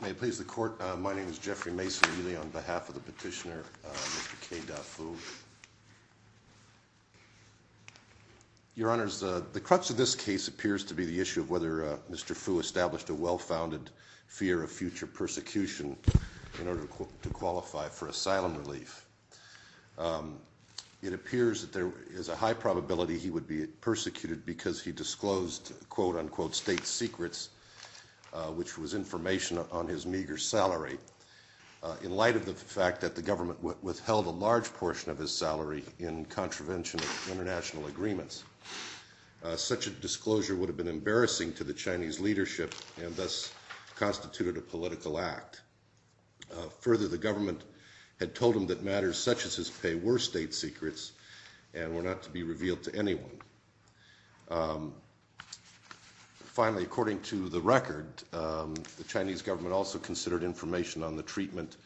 May it please the court, my name is Jeffrey Mason Ely on behalf of the petitioner, Mr. K. Da Fu. Your honors, the crux of this case appears to be the issue of whether Mr. Fu established a well-founded fear of future persecution in order to qualify for asylum relief. It appears that there is a high probability he would be persecuted because he disclosed quote-unquote state secrets, which was information on his meager salary, in light of the fact that the government withheld a large portion of his salary in contravention of international agreements. Such a disclosure would have been embarrassing to the Chinese leadership and thus constituted a political act. Further, the government had told him that matters such as his pay were state secrets and were not to be revealed to anyone. Finally, according to the record, the Chinese government also considered information on the treatment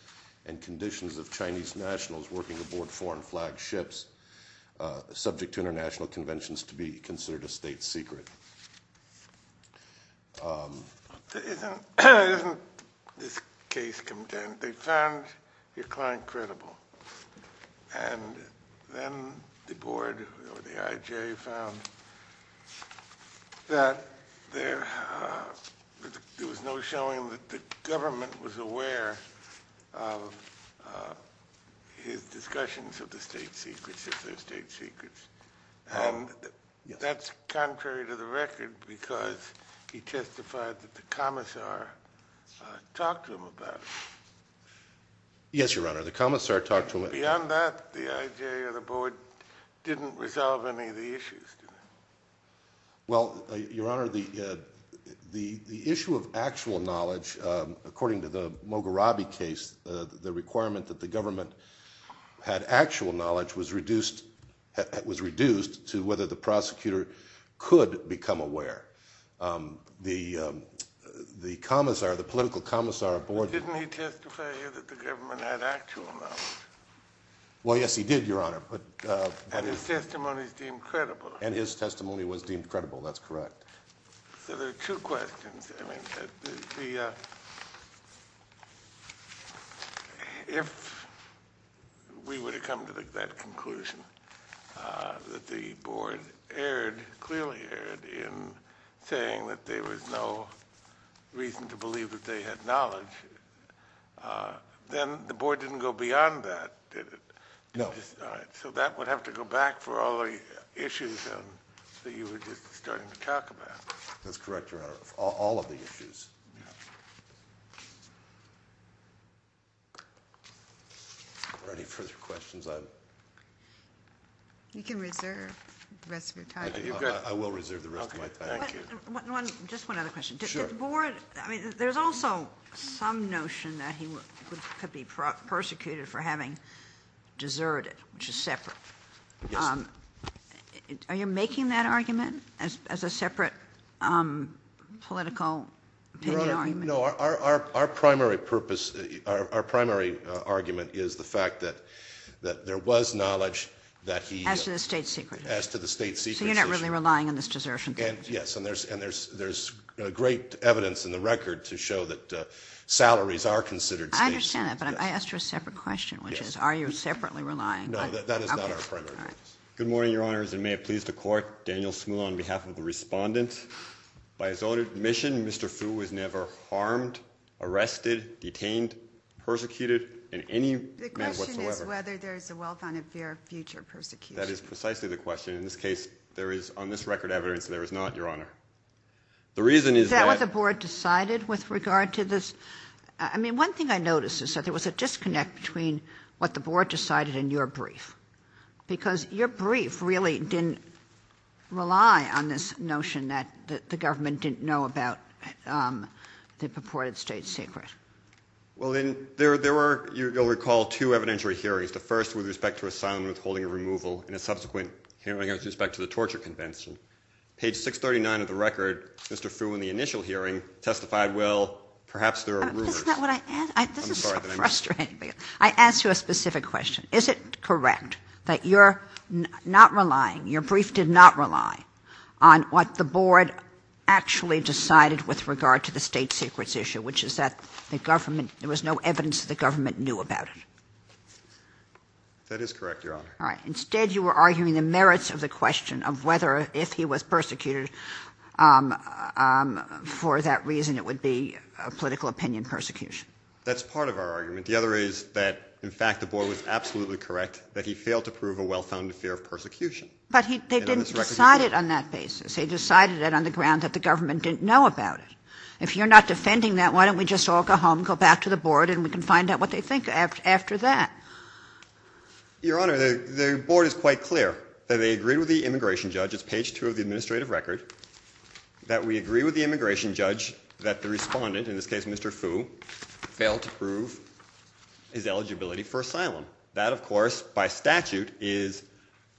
and conditions of Chinese nationals working aboard foreign flag ships, subject to international conventions, to be considered a state secret. Isn't this case condemned? They found your client credible. And then the board or the IJ found that there was no showing that the government was aware of his discussions of the state secrets as their state secrets. And that's contrary to the record because he testified that the commissar talked to him about it. Yes, Your Honor, the commissar talked to him about it. Beyond that, the IJ or the board didn't resolve any of the issues. Well, Your Honor, the issue of actual knowledge, according to the Mogherabi case, the requirement that the government had actual knowledge was reduced to whether the prosecutor could become aware. The commissar, the political commissar aboard... But didn't he testify that the government had actual knowledge? Well, yes, he did, Your Honor. And his testimony is deemed credible. And his testimony was deemed credible. That's correct. So there are two questions. If we were to come to that conclusion that the board erred, clearly erred, in saying that there was no reason to believe that they had knowledge, then the board didn't go beyond that, did it? No. So that would have to go back for all the issues that you were just starting to talk about. That's correct, Your Honor, all of the issues. Are there any further questions? You can reserve the rest of your time. I will reserve the rest of my time. Thank you. Just one other question. Sure. The board, I mean, there's also some notion that he could be persecuted for having deserted, which is separate. Yes. Are you making that argument as a separate political opinion argument? No. Our primary purpose, our primary argument is the fact that there was knowledge that he... As to the state secret. As to the state secret. So you're not really relying on this desertion thing. Yes, and there's great evidence in the record to show that salaries are considered states. I understand that, but I asked you a separate question, which is, are you separately relying? No, that is not our primary purpose. Good morning, Your Honors, and may it please the Court, Daniel Smule on behalf of the Respondent. By his own admission, Mr. Fu was never harmed, arrested, detained, persecuted in any manner whatsoever. The question is whether there is a well-founded fear of future persecution. That is precisely the question. In this case, there is on this record evidence that there is not, Your Honor. The reason is that... Is that what the board decided with regard to this? I mean, one thing I noticed is that there was a disconnect between what the board decided and your brief, because your brief really didn't rely on this notion that the government didn't know about the purported state secret. Well, there were, you'll recall, two evidentiary hearings. The first with respect to asylum and withholding of removal, and a subsequent hearing with respect to the torture convention. Page 639 of the record, Mr. Fu in the initial hearing testified, well, perhaps there are rumors. Isn't that what I asked? This is so frustrating. I asked you a specific question. Is it correct that you're not relying, your brief did not rely on what the board actually decided with regard to the state secrets issue, which is that the government, there was no evidence that the government knew about it? That is correct, Your Honor. All right. Instead, you were arguing the merits of the question of whether if he was persecuted for that reason it would be a political opinion persecution. That's part of our argument. The other is that, in fact, the board was absolutely correct that he failed to prove a well-founded fear of persecution. But they didn't decide it on that basis. They decided it on the ground that the government didn't know about it. If you're not defending that, why don't we just all go home, go back to the board, and we can find out what they think after that. Your Honor, the board is quite clear that they agreed with the immigration judge, it's page 2 of the administrative record, that we agree with the immigration judge that the respondent, in this case Mr. Fu, failed to prove his eligibility for asylum. That, of course, by statute, is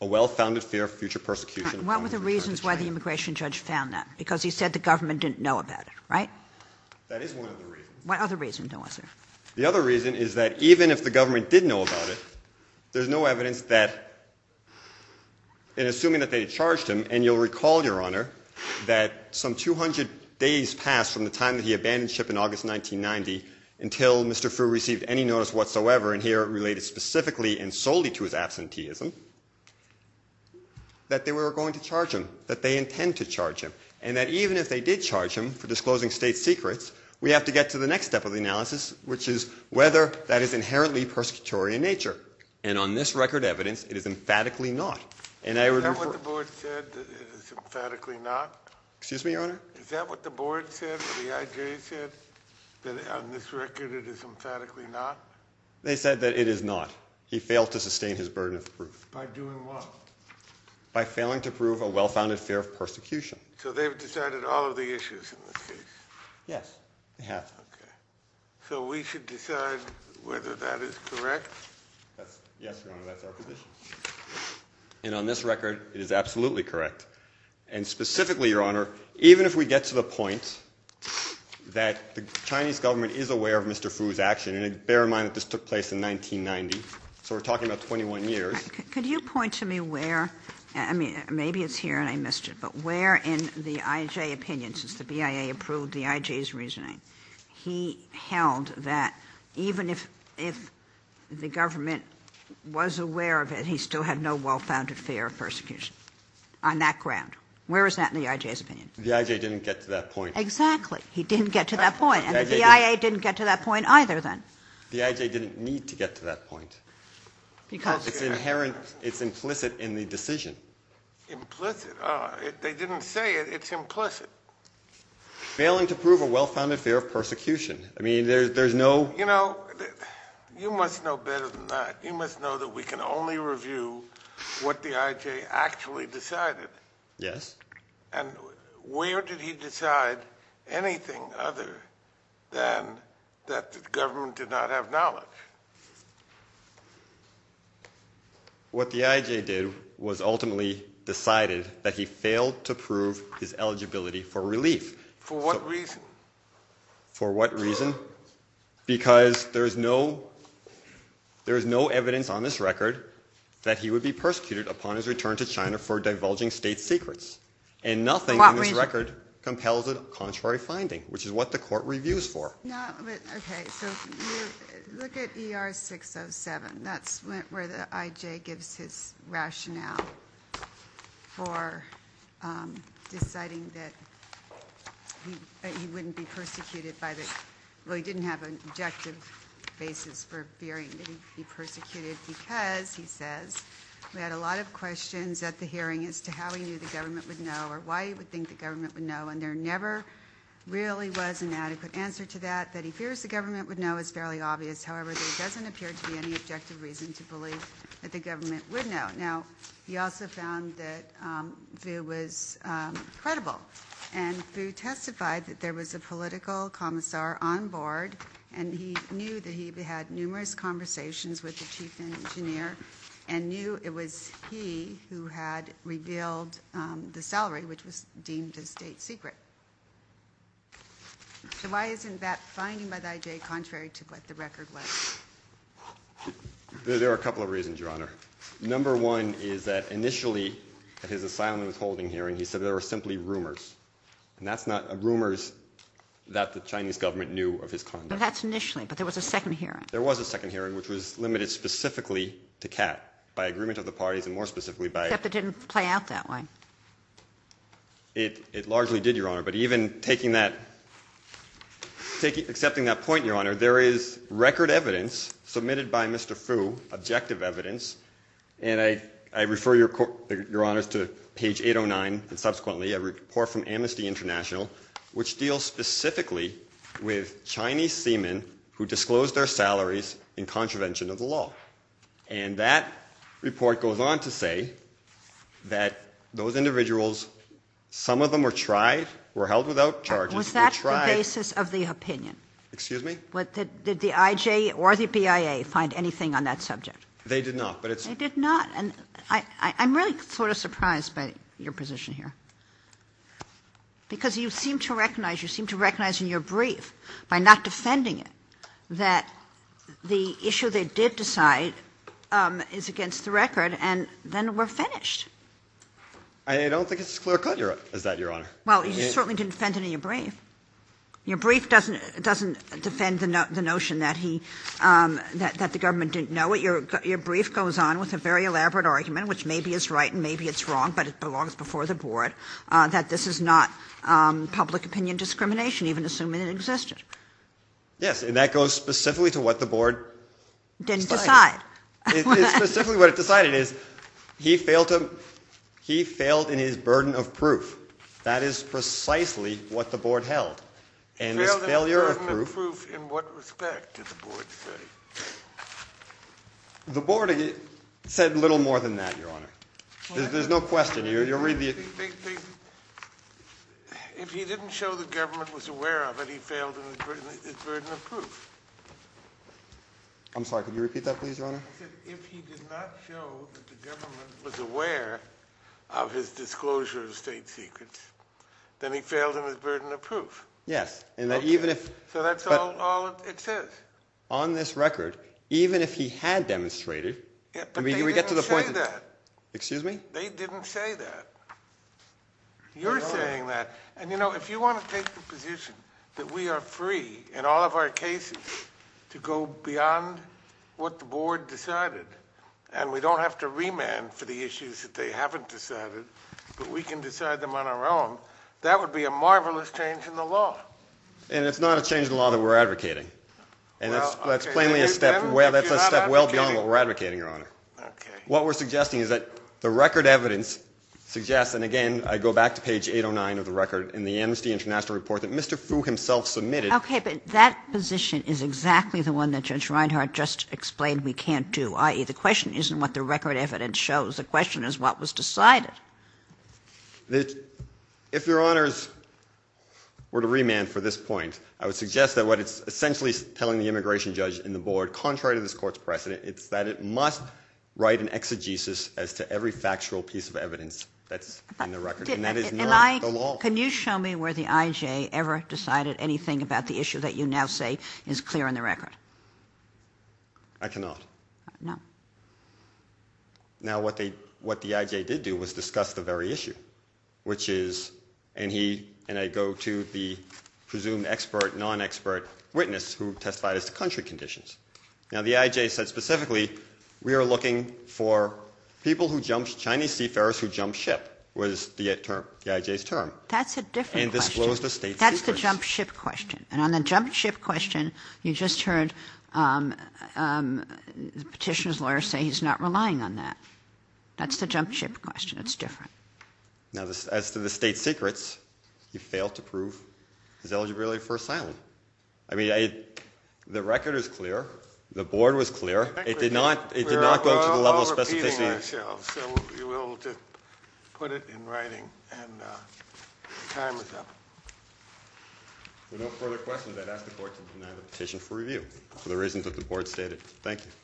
a well-founded fear of future persecution. What were the reasons why the immigration judge found that? Because he said the government didn't know about it, right? That is one of the reasons. What other reason was there? The other reason is that even if the government did know about it, there's no evidence that, in assuming that they had charged him, and you'll recall, Your Honor, that some 200 days passed from the time that he abandoned SHIP in August 1990 until Mr. Fu received any notice whatsoever, and here it related specifically and solely to his absenteeism, that they were going to charge him, that they intend to charge him, and that even if they did charge him for disclosing state secrets, we have to get to the next step of the analysis, which is whether that is inherently persecutory in nature. And on this record evidence, it is emphatically not. Is that what the board said, that it is emphatically not? Excuse me, Your Honor? Is that what the board said, the IJ said, that on this record it is emphatically not? He failed to sustain his burden of proof. By doing what? By failing to prove a well-founded fear of persecution. So they've decided all of the issues in this case? Yes, they have. Okay. So we should decide whether that is correct? Yes, Your Honor, that's our position. And on this record it is absolutely correct. And specifically, Your Honor, even if we get to the point that the Chinese government is aware of Mr. Fu's action, and bear in mind that this took place in 1990, so we're talking about 21 years. Could you point to me where, I mean, maybe it's here and I missed it, but where in the IJ opinion, since the BIA approved the IJ's reasoning, he held that even if the government was aware of it, he still had no well-founded fear of persecution on that ground. Where is that in the IJ's opinion? The IJ didn't get to that point. Exactly. He didn't get to that point. And the BIA didn't get to that point either, then. The IJ didn't need to get to that point. Because it's inherent, it's implicit in the decision. Implicit? They didn't say it, it's implicit. Failing to prove a well-founded fear of persecution. I mean, there's no... You know, you must know better than that. You must know that we can only review what the IJ actually decided. Yes. And where did he decide anything other than that the government did not have knowledge? What the IJ did was ultimately decided that he failed to prove his eligibility for relief. For what reason? For what reason? Because there is no evidence on this record that he would be persecuted upon his return to China for divulging state secrets. And nothing on this record compels a contrary finding, which is what the court reviews for. Okay, so look at ER 607. That's where the IJ gives his rationale for deciding that he wouldn't be persecuted by the... Well, he didn't have an objective basis for fearing that he'd be persecuted because, he says, we had a lot of questions at the hearing as to how he knew the government would know or why he would think the government would know. And there never really was an adequate answer to that. That he fears the government would know is fairly obvious. However, there doesn't appear to be any objective reason to believe that the government would know. Now, he also found that Fu was credible. And Fu testified that there was a political commissar on board, and he knew that he had numerous conversations with the chief engineer and knew it was he who had revealed the salary, which was deemed a state secret. So why isn't that finding by the IJ contrary to what the record was? There are a couple of reasons, Your Honor. Number one is that initially at his asylum withholding hearing, he said there were simply rumors. And that's not rumors that the Chinese government knew of his conduct. But that's initially. But there was a second hearing. There was a second hearing which was limited specifically to Kat by agreement of the parties and more specifically by. Except it didn't play out that way. It largely did, Your Honor. But even taking that, accepting that point, Your Honor, there is record evidence submitted by Mr. Fu, objective evidence, and I refer, Your Honor, to page 809 and subsequently a report from Amnesty International which deals specifically with Chinese seamen who disclosed their salaries in contravention of the law. And that report goes on to say that those individuals, some of them were tried, were held without charges. Was that the basis of the opinion? Excuse me? Did the IJ or the BIA find anything on that subject? They did not. They did not. And I'm really sort of surprised by your position here. Because you seem to recognize, you seem to recognize in your brief, by not defending it, that the issue they did decide is against the record, and then we're finished. I don't think it's as clear cut as that, Your Honor. Well, you certainly didn't defend it in your brief. Your brief doesn't defend the notion that he, that the government didn't know it. Your brief goes on with a very elaborate argument, which maybe is right and maybe it's wrong, but it belongs before the Board, that this is not public opinion discrimination, even assuming it existed. Yes, and that goes specifically to what the Board decided. Didn't decide. Specifically what it decided is he failed to, he failed in his burden of proof. That is precisely what the Board held. He failed in his burden of proof. In what respect did the Board say? The Board said little more than that, Your Honor. There's no question. You'll read the. If he didn't show the government was aware of it, he failed in his burden of proof. I'm sorry, could you repeat that please, Your Honor? He said if he did not show that the government was aware of his disclosure of state secrets, then he failed in his burden of proof. Yes, and that even if. So that's all it says. On this record, even if he had demonstrated. But they didn't say that. Excuse me? They didn't say that. You're saying that. And, you know, if you want to take the position that we are free in all of our cases to go beyond what the Board decided. And we don't have to remand for the issues that they haven't decided. But we can decide them on our own. That would be a marvelous change in the law. And it's not a change in the law that we're advocating. And that's plainly a step. Well, that's a step well beyond what we're advocating, Your Honor. Okay. What we're suggesting is that the record evidence suggests, and again, I go back to page 809 of the record in the Amnesty International report that Mr. Fu himself submitted. Okay, but that position is exactly the one that Judge Reinhart just explained we can't do, i.e., the question isn't what the record evidence shows. The question is what was decided. If, Your Honors, were to remand for this point, I would suggest that what it's essentially telling the immigration judge and the Board, contrary to this court's precedent, it's that it must write an exegesis as to every factual piece of evidence that's in the record. And that is not the law. Can you show me where the IJ ever decided anything about the issue that you now say is clear in the record? I cannot. No. Now, what the IJ did do was discuss the very issue, which is, and I go to the presumed expert, non-expert witness who testified as to country conditions. Now, the IJ said specifically, we are looking for people who jumped, Chinese seafarers who jumped ship was the IJ's term. That's a different question. And disclosed the state secrets. That's the jump ship question. And on the jump ship question, you just heard the petitioner's lawyer say he's not relying on that. That's the jump ship question. It's different. Now, as to the state secrets, he failed to prove his eligibility for asylum. I mean, the record is clear. The board was clear. It did not go to the level of specificity. We're all repeating ourselves, so we will just put it in writing. And time is up. If there are no further questions, I'd ask the board to deny the petition for review for the reasons that the board stated. Thank you.